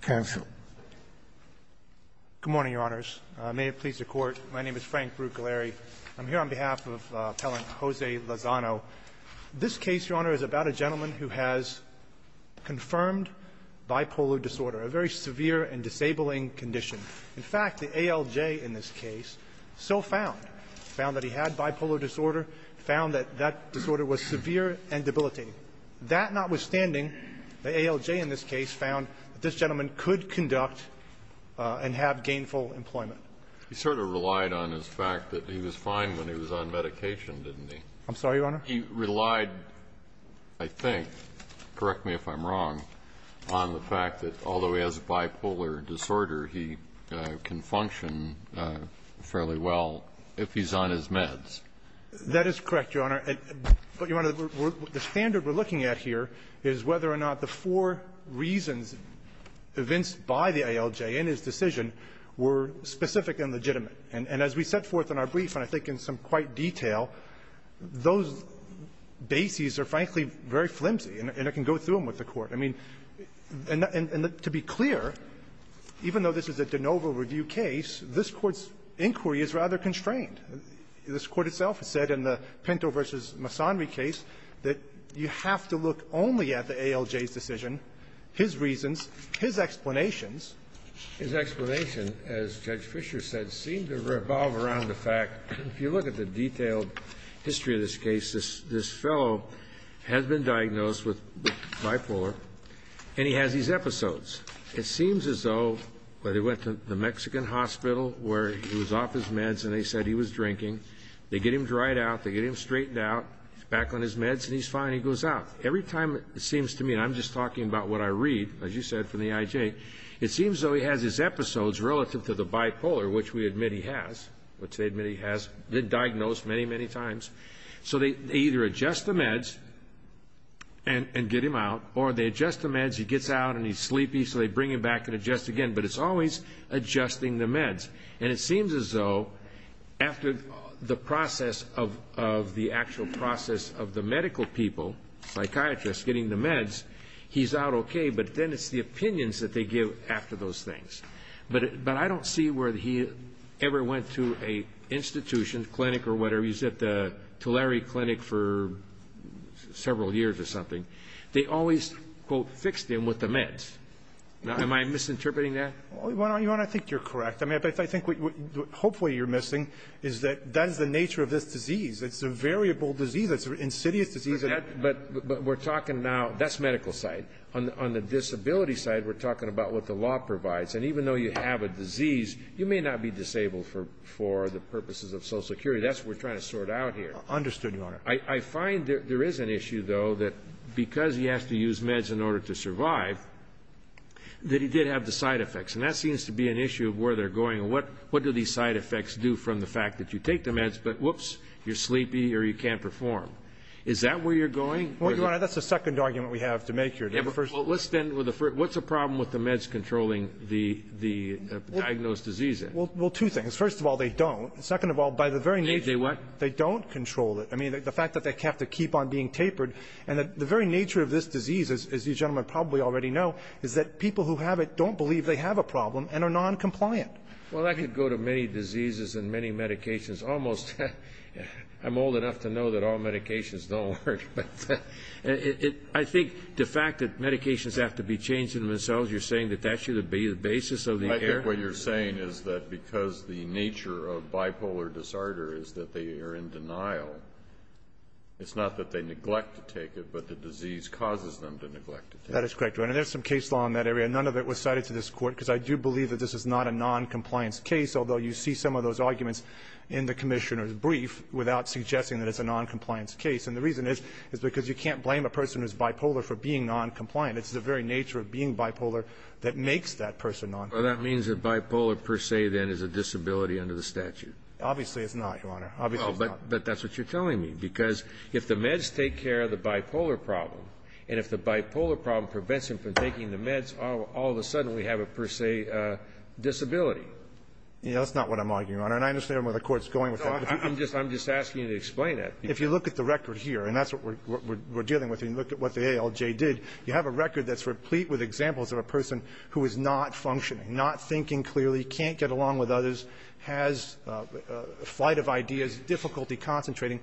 Good morning, Your Honors. May it please the Court, my name is Frank Brugaleri. I'm here on behalf of Appellant Jose Lozano. This case, Your Honor, is about a gentleman who has confirmed bipolar disorder, a very severe and disabling condition. In fact, the ALJ in this case so found, found that he had bipolar disorder, found that that disorder was severe and debilitating. That notwithstanding, the ALJ in this case found that this gentleman could conduct and have gainful employment. He sort of relied on his fact that he was fine when he was on medication, didn't he? I'm sorry, Your Honor? He relied, I think, correct me if I'm wrong, on the fact that although he has bipolar disorder, he can function fairly well if he's on his meds. That is correct, Your Honor. But, Your Honor, the standard we're looking at here is whether or not the four reasons evinced by the ALJ in his decision were specific and legitimate. And as we set forth in our brief, and I think in some quite detail, those bases are, frankly, very flimsy, and it can go through them with the Court. I mean, and to be clear, even though this is a de novo review case, this Court's inquiry is rather constrained. This Court itself has said in the Pinto v. Masonry case that you have to look only at the ALJ's decision, his reasons, his explanations. His explanation, as Judge Fischer said, seemed to revolve around the fact, if you look at the detailed history of this case, this fellow has been diagnosed with bipolar, and he has these episodes. It seems as though that he went to the Mexican hospital where he was off his meds and they said he was drinking. They get him dried out, they get him straightened out, back on his meds, and he's fine. He goes out. Every time it seems to me, and I'm just talking about what I read, as you said, from the IJ, it seems as though he has his episodes relative to the bipolar, which we admit he has, which they admit he has been diagnosed many, many times. So they either adjust the meds and get him out, or they adjust the meds, he gets out, and he's sleepy, so they bring him back and adjust again. But it's always adjusting the meds. And it seems as though after the process of the actual process of the medical people, psychiatrists getting the meds, he's out okay. But then it's the opinions that they give after those things. But I don't see where he ever went to an institution, clinic or whatever. He's at the Tulare Clinic for several years or something. They always, quote, fixed him with the meds. Now, am I misinterpreting that? Well, your Honor, I think you're correct. I mean, I think what hopefully you're missing is that that is the nature of this disease. It's a variable disease. It's an insidious disease. But we're talking now, that's medical side. On the disability side, we're talking about what the law provides. And even though you have a disease, you may not be disabled for the purposes of Social Security. That's what we're trying to sort out here. Understood, your Honor. I find there is an issue, though, that because he has to use meds in order to survive, that he did have the side effects. And that seems to be an issue of where they're going and what do these side effects do from the fact that you take the meds, but whoops, you're sleepy or you can't perform. Is that where you're going? Well, your Honor, that's the second argument we have to make here. Well, let's start with the first. What's the problem with the meds controlling the diagnosed disease? Well, two things. First of all, they don't. Second of all, by the very nature, they don't control it. I mean, the fact that they have to keep on being tapered and the very nature of this disease, as you gentlemen probably already know, is that people who have it don't believe they have a problem and are non-compliant. Well, that could go to many diseases and many medications. Almost, I'm old enough to know that all medications don't work. I think the fact that medications have to be changed in themselves, you're saying that that should be the basis of the care? I think what you're saying is that because the nature of bipolar disorder is that they are in denial, it's not that they neglect to take it, but the disease causes them to neglect to take it. That is correct, Your Honor. And there's some case law in that area. None of it was cited to this Court because I do believe that this is not a non-compliance case, although you see some of those arguments in the Commissioner's brief without suggesting that it's a non-compliance case. And the reason is, is because you can't blame a person who's bipolar for being non-compliant. It's the very nature of being bipolar that makes that person non-compliant. Well, that means that bipolar, per se, then, is a disability under the statute. Obviously, it's not, Your Honor. Obviously, it's not. But that's what you're telling me, because if the meds take care of the bipolar problem, and if the bipolar problem prevents them from taking the meds, all of a sudden we have a, per se, disability. That's not what I'm arguing, Your Honor. And I understand where the Court's going with that. I'm just asking you to explain that. If you look at the record here, and that's what we're dealing with, and you look at what the ALJ did, you have a record that's replete with examples of a person who is not functioning, not thinking clearly, can't get along with others, has a flight of ideas, difficulty concentrating.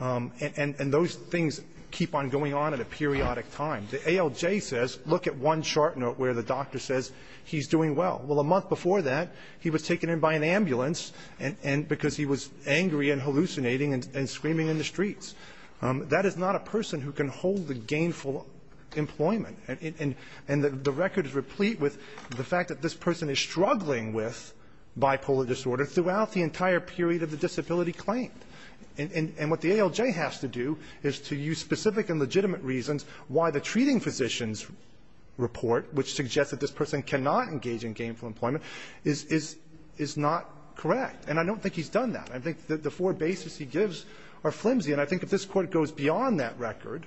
And those things keep on going on at a periodic time. The ALJ says, look at one chart note where the doctor says he's doing well. Well, a month before that, he was taken in by an ambulance, and because he was angry and hallucinating and screaming in the streets. That is not a person who can hold a gainful employment. And the record is replete with the fact that this person is struggling with bipolar disorder throughout the entire period of the disability claim. And what the ALJ has to do is to use specific and legitimate reasons why the treating physician's report, which suggests that this person cannot engage in gainful employment, is not correct. And I don't think he's done that. I think the four bases he gives are flimsy. And I think if this Court goes beyond that record,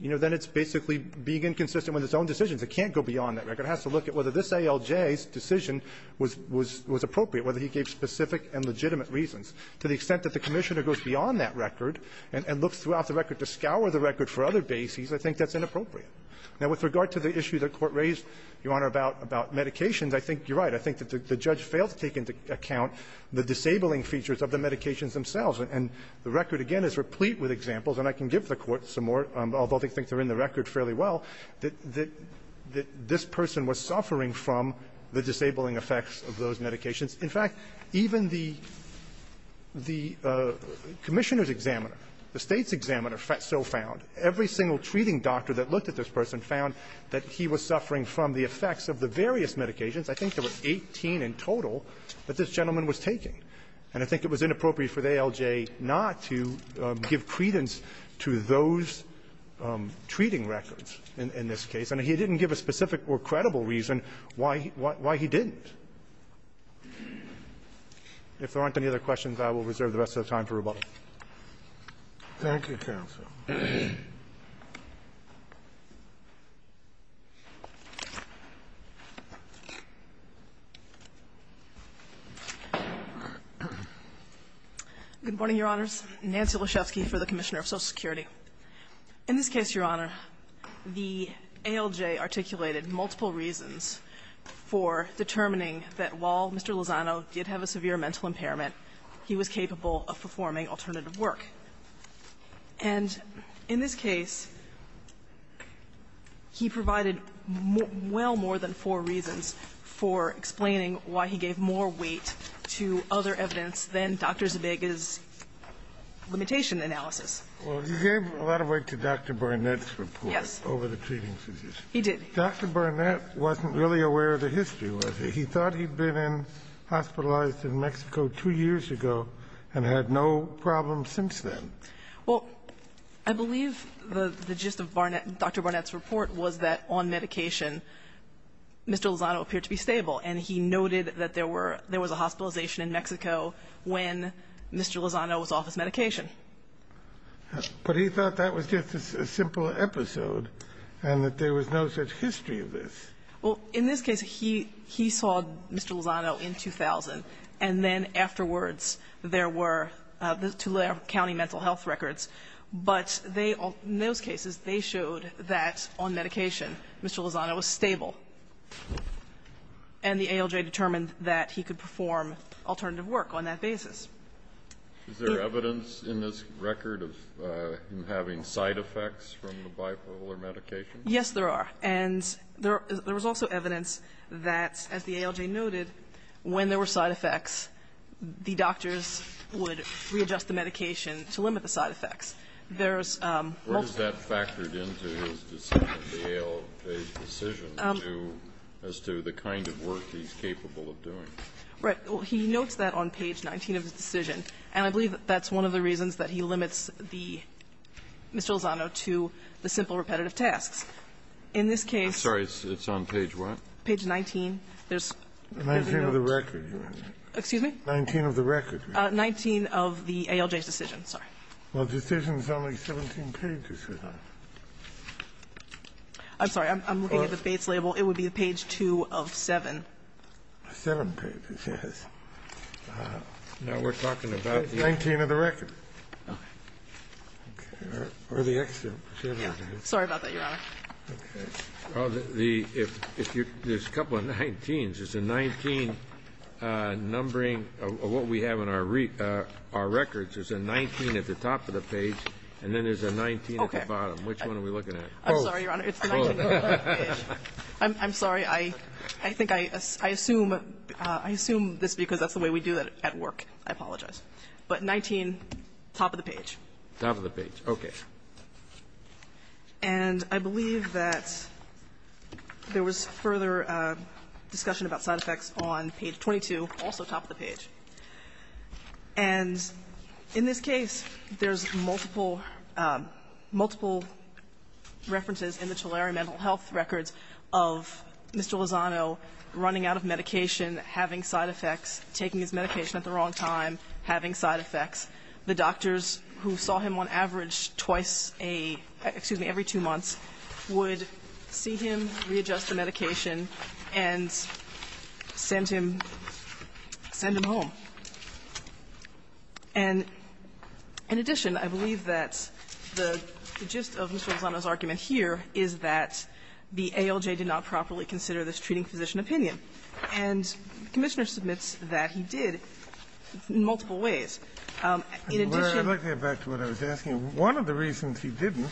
you know, then it's basically being inconsistent with its own decisions. It can't go beyond that record. It has to look at whether this ALJ's decision was appropriate, whether he gave specific and legitimate reasons. To the extent that the Commissioner goes beyond that record and looks throughout the record to scour the record for other bases, I think that's inappropriate. Now, with regard to the issue the Court raised, Your Honor, about medications, I think you're right. I think that the judge failed to take into account the disabling features of the medications themselves. And the record, again, is replete with examples. And I can give the Court some more, although I think they're in the record fairly well, that this person was suffering from the disabling effects of those medications. In fact, even the Commissioner's examiner, the State's examiner, so found, every single treating doctor that looked at this person found that he was suffering from the effects of the various medications. I think there were 18 in total that this gentleman was taking. And I think it was inappropriate for the ALJ not to give credence to those treating records in this case. And he didn't give a specific or credible reason why he didn't. If there aren't any other questions, I will reserve the rest of the time for rebuttal. Thank you, counsel. Good morning, Your Honors. Nancy Lyshevsky for the Commissioner of Social Security. In this case, Your Honor, the ALJ articulated multiple reasons for determining that while Mr. Lozano did have a severe mental impairment, he was capable of performing alternative work. And in this case, he provided well more than four reasons for explaining why he gave more weight to other evidence than Dr. Zabiga's limitation analysis. Well, you gave a lot of weight to Dr. Barnett's report over the treating physician. He did. Dr. Barnett wasn't really aware of the history, was he? He thought he'd been hospitalized in Mexico two years ago and had no problems since then. Well, I believe the gist of Dr. Barnett's report was that on medication, Mr. Lozano appeared to be stable, and he noted that there was a hospitalization in Mexico when Mr. Lozano was off his medication. But he thought that was just a simple episode and that there was no such history of this. Well, in this case, he saw Mr. Lozano in 2000, and then afterwards there were the Tulare County mental health records. But they all ñ in those cases, they showed that on medication, Mr. Lozano was stable. And the ALJ determined that he could perform alternative work on that basis. Is there evidence in this record of him having side effects from the bipolar medication? Yes, there are. And there was also evidence that, as the ALJ noted, when there were side effects, the doctors would readjust the medication to limit the side effects. There's multiple. What has that factored into his decision, the ALJ's decision, as to the kind of work he's capable of doing? Right. Well, he notes that on page 19 of his decision. And I believe that's one of the reasons that he limits the ñ Mr. Lozano to the simple repetitive tasks. In this case ñ I'm sorry. It's on page what? Page 19. There's ñ Nineteen of the record, you mean. Excuse me? Nineteen of the record. Nineteen of the ALJ's decision. Sorry. Well, the decision is only 17 pages long. I'm sorry. I'm looking at the base label. It would be page 2 of 7. Seven pages, yes. Now we're talking about the ñ Nineteen of the record. Okay. Or the excerpt. Sorry about that, Your Honor. The ñ if you're ñ there's a couple of 19s. There's a 19 numbering of what we have in our records. There's a 19 at the top of the page, and then there's a 19 at the bottom. Okay. Which one are we looking at? Both. I'm sorry, Your Honor. It's the 19 at the bottom of the page. I'm sorry. I think I assume ñ I assume this because that's the way we do it at work. I apologize. But 19, top of the page. Top of the page. Okay. And I believe that there was further discussion about side effects on page 22, also top of the page. And in this case, there's multiple ñ multiple references in the Tulare mental health records of Mr. Lozano running out of medication, having side effects, taking his medication at the wrong time, having side effects. The doctors who saw him on average twice a ñ excuse me, every two months would see him readjust the medication and send him ñ send him home. And in addition, I believe that the gist of Mr. Lozano's argument here is that the ALJ did not properly consider this treating physician opinion. And the Commissioner submits that he did in multiple ways. In addition ñ I'd like to get back to what I was asking. One of the reasons he didn't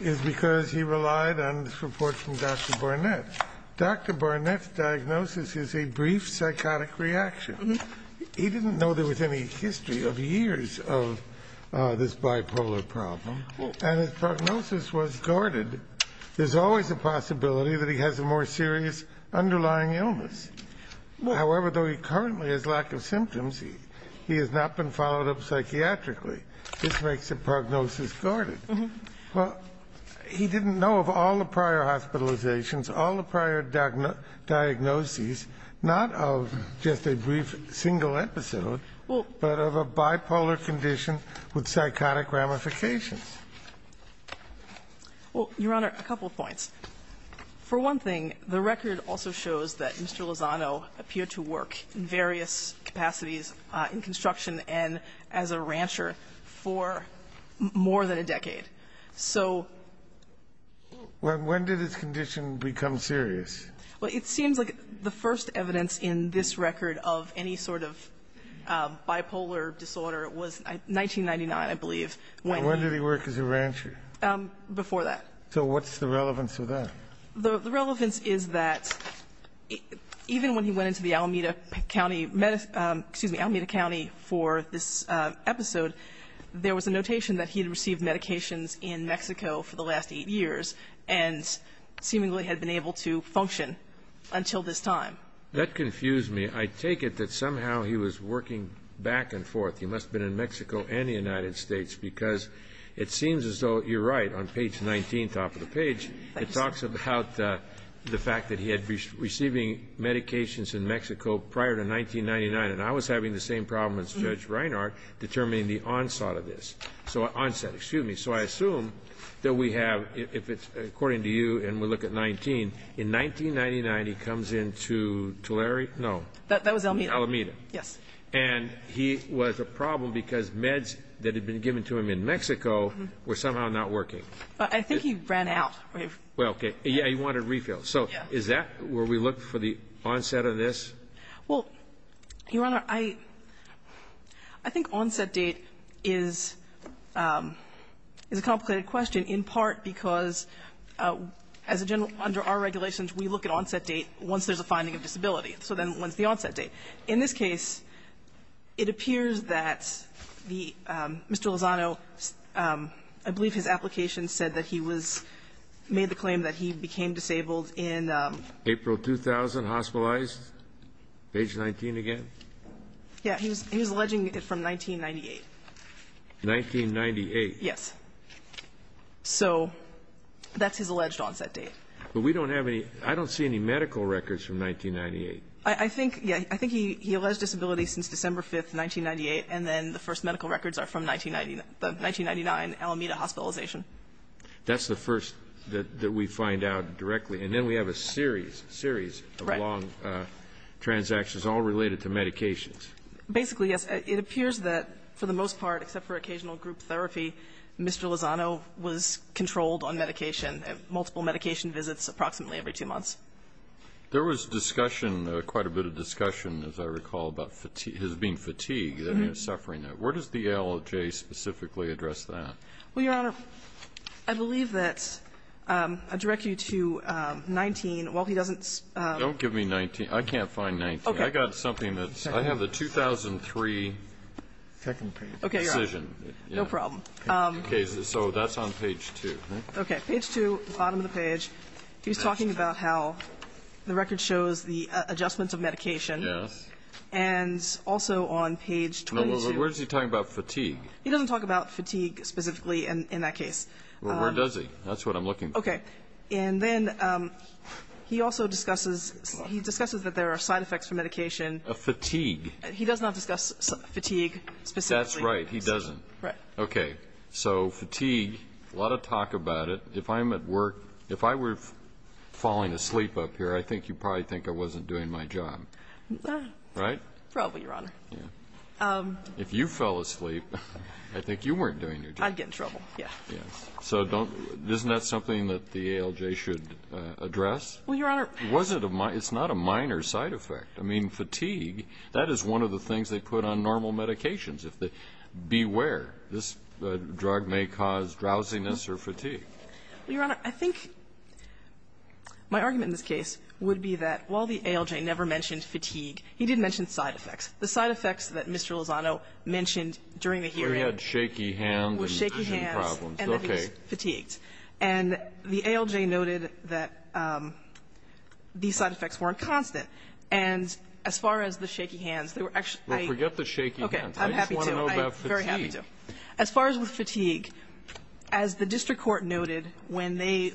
is because he relied on this report from Dr. Barnett. Dr. Barnett's diagnosis is a brief psychotic reaction. He didn't know there was any history of years of this bipolar problem. And his prognosis was guarded. There's always a possibility that he has a more serious underlying illness. However, though he currently has lack of symptoms, he has not been followed up psychiatrically. This makes the prognosis guarded. Well, he didn't know of all the prior hospitalizations, all the prior diagnoses, not of just a brief single episode, but of a bipolar condition with psychotic ramifications. Well, Your Honor, a couple of points. For one thing, the record also shows that Mr. Lozano appeared to work in various capacities in construction and as a rancher for more than a decade. So ñ Well, when did his condition become serious? Well, it seems like the first evidence in this record of any sort of bipolar disorder was 1999, I believe. When did he work as a rancher? Before that. So what's the relevance of that? The relevance is that even when he went into the Alameda County for this episode, there was a notation that he had received medications in Mexico for the last eight years and seemingly had been able to function until this time. That confused me. I take it that somehow he was working back and forth. He must have been in Mexico and the United States because it seems as though you're right. On page 19, top of the page, it talks about the fact that he had been receiving medications in Mexico prior to 1999. And I was having the same problem as Judge Reinhart determining the onset of this. So ñ onset, excuse me. So I assume that we have ñ if it's ñ according to you, and we look at 19, in 1999, he comes into Tulare ñ no. That was Alameda. Alameda. Yes. And he was a problem because meds that had been given to him in Mexico were somehow not working. I think he ran out. Well, okay. Yeah, he wanted refills. So is that where we look for the onset of this? Well, Your Honor, I think onset date is a complicated question in part because as a general, under our regulations, we look at onset date once there's a finding of disability. So then when's the onset date? In this case, it appears that the ñ Mr. Lozano, I believe his application said that he was ñ made the claim that he became disabled in ñ April 2000, hospitalized, age 19 again? Yeah. He was alleging it from 1998. 1998. Yes. So that's his alleged onset date. But we don't have any ñ I don't see any medical records from 1998. I think ñ yeah, I think he alleged disability since December 5th, 1998. And then the first medical records are from 1999, Alameda hospitalization. That's the first that we find out directly. And then we have a series, series of long transactions all related to medications. Basically, yes. It appears that for the most part, except for occasional group therapy, Mr. Lozano was controlled on medication, multiple medication visits approximately every two months. There was discussion, quite a bit of discussion, as I recall, about fatigue, his being fatigued and his suffering. Where does the ALJ specifically address that? Well, Your Honor, I believe that I direct you to 19. While he doesn't ñ Don't give me 19. I can't find 19. I got something that's ñ I have the 2003 decision. Okay, Your Honor. No problem. Okay, so that's on page 2. Okay. Page 2, bottom of the page. He's talking about how the record shows the adjustments of medication. Yes. And also on page 22. Where's he talking about fatigue? He doesn't talk about fatigue specifically in that case. Well, where does he? That's what I'm looking for. Okay. And then he also discusses, he discusses that there are side effects from medication. A fatigue. He does not discuss fatigue specifically. That's right. He doesn't. Right. Okay. So fatigue, a lot of talk about it. If I'm at work, if I were falling asleep up here, I think you'd probably think I wasn't doing my job. No. Right? Probably, Your Honor. Yeah. If you fell asleep, I think you weren't doing your job. I'd get in trouble, yeah. Yes. So don't ñ isn't that something that the ALJ should address? Well, Your Honor ñ Was it a ñ it's not a minor side effect. I mean, fatigue, that is one of the things they put on normal medications, if they ñ This drug may cause drowsiness or fatigue. Well, Your Honor, I think my argument in this case would be that while the ALJ never mentioned fatigue, he did mention side effects. The side effects that Mr. Lozano mentioned during the hearing ñ Where he had shaky hands and ñ With shaky hands. And he was fatigued. Okay. And the ALJ noted that these side effects weren't constant. And as far as the shaky hands, they were actually ñ Well, forget the shaky hands. Okay. I'm happy to. I'm very happy to. As far as with fatigue, as the district court noted when they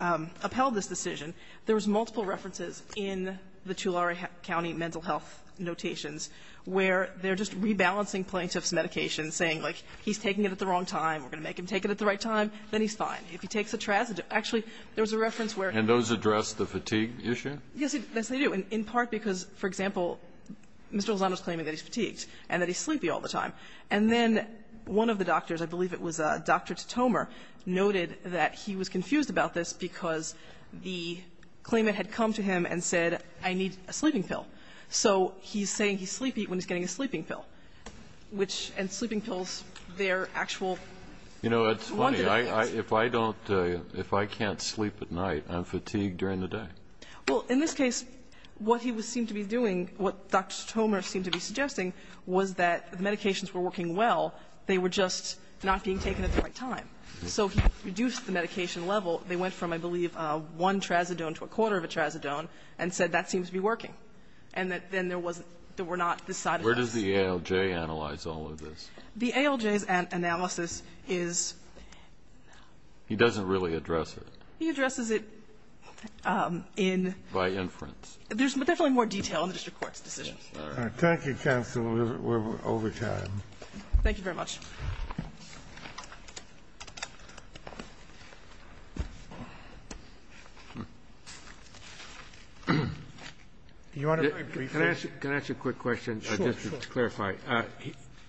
upheld this decision, there was multiple references in the Tulare County mental health notations where they're just rebalancing plaintiff's medication, saying, like, he's taking it at the wrong time, we're going to make him take it at the right time, then he's fine. If he takes a ñ actually, there was a reference where ñ And those address the fatigue issue? Yes, they do. And in part because, for example, Mr. Lozano's claiming that he's fatigued and that he's sleepy all the time. And then one of the doctors, I believe it was Dr. Totomer, noted that he was confused about this because the claimant had come to him and said, I need a sleeping pill. So he's saying he's sleepy when he's getting a sleeping pill, which ñ And sleeping pills, they're actual ñ You know, it's funny. If I don't ñ if I can't sleep at night, I'm fatigued during the day. Well, in this case, what he was ñ seemed to be doing, what Dr. Totomer seemed to be suggesting was that the medications were working well, they were just not being taken at the right time. So he reduced the medication level. They went from, I believe, one trazodone to a quarter of a trazodone and said that seems to be working. And that then there was ñ there were not the side effects. Where does the ALJ analyze all of this? The ALJ's analysis is ñ He doesn't really address it. He addresses it in ñ By inference. There's definitely more detail in the district court's decision. All right. Thank you, counsel. We're over time. Thank you very much. You want to be brief? Can I ask you a quick question? Sure, sure. Just to clarify.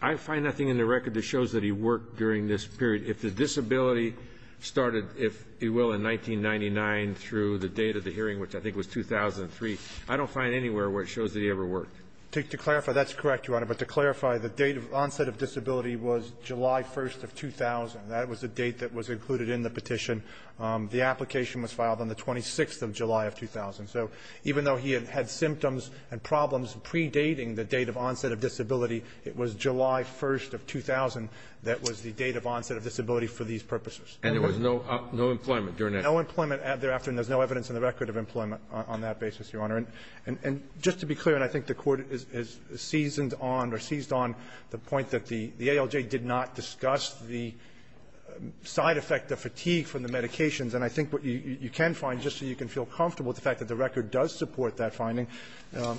I find nothing in the record that shows that he worked during this period. If the disability started, if you will, in 1999 through the date of the hearing, which I think was 2003, I don't find anywhere where it shows that he ever worked. To clarify, that's correct, Your Honor. But to clarify, the date of onset of disability was July 1st of 2000. That was the date that was included in the petition. The application was filed on the 26th of July of 2000. So even though he had symptoms and problems predating the date of onset of disability, it was July 1st of 2000 that was the date of onset of disability for these purposes. And there was no ñ no employment during that? No employment thereafter, and there's no evidence in the record of employment on that basis, Your Honor. And just to be clear, and I think the Court has seasoned on or seized on the point that the ALJ did not discuss the side effect of fatigue from the medications. And I think what you can find, just so you can feel comfortable with the fact that the record does support that finding,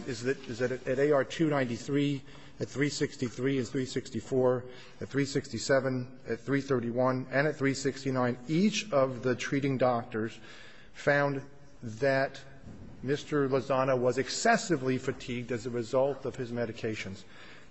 is that at AR 293, at 363 and 364, at 367, at 331, and at 369, each of the treating doctors found that Mr. Lozano was excessively fatigued as a result of his medications.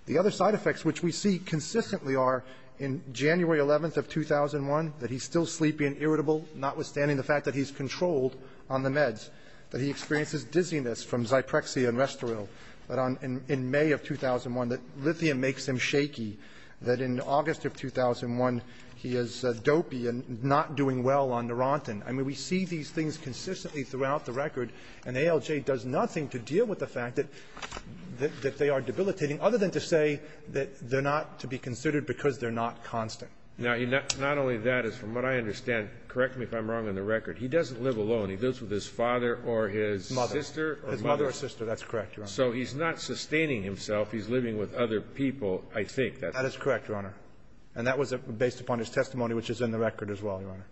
The other side effects, which we see consistently are in January 11th of 2001, that he's still sleepy and irritable, notwithstanding the fact that he's controlled on the meds, that he experiences dizziness from Zyprexia and Restoril, that on ñ in May of 2001, that lithium makes him shaky, that in August of 2001, he is dopey and not doing well on Neurontin. I mean, we see these things consistently throughout the record, and ALJ does nothing to deal with the fact that they are debilitating, other than to say that they're not to be considered because they're not constant. Now, not only that, as from what I understand, correct me if I'm wrong on the record, he doesn't live alone. He lives with his father or his sister ñ His mother. His mother or sister. That's correct, Your Honor. So he's not sustaining himself. He's living with other people, I think. That is correct, Your Honor. And that was based upon his testimony, which is in the record as well, Your Honor.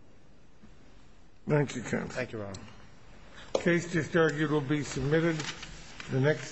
Thank you, counsel. Thank you, Your Honor. The case is adjourned. It will be submitted the next ñ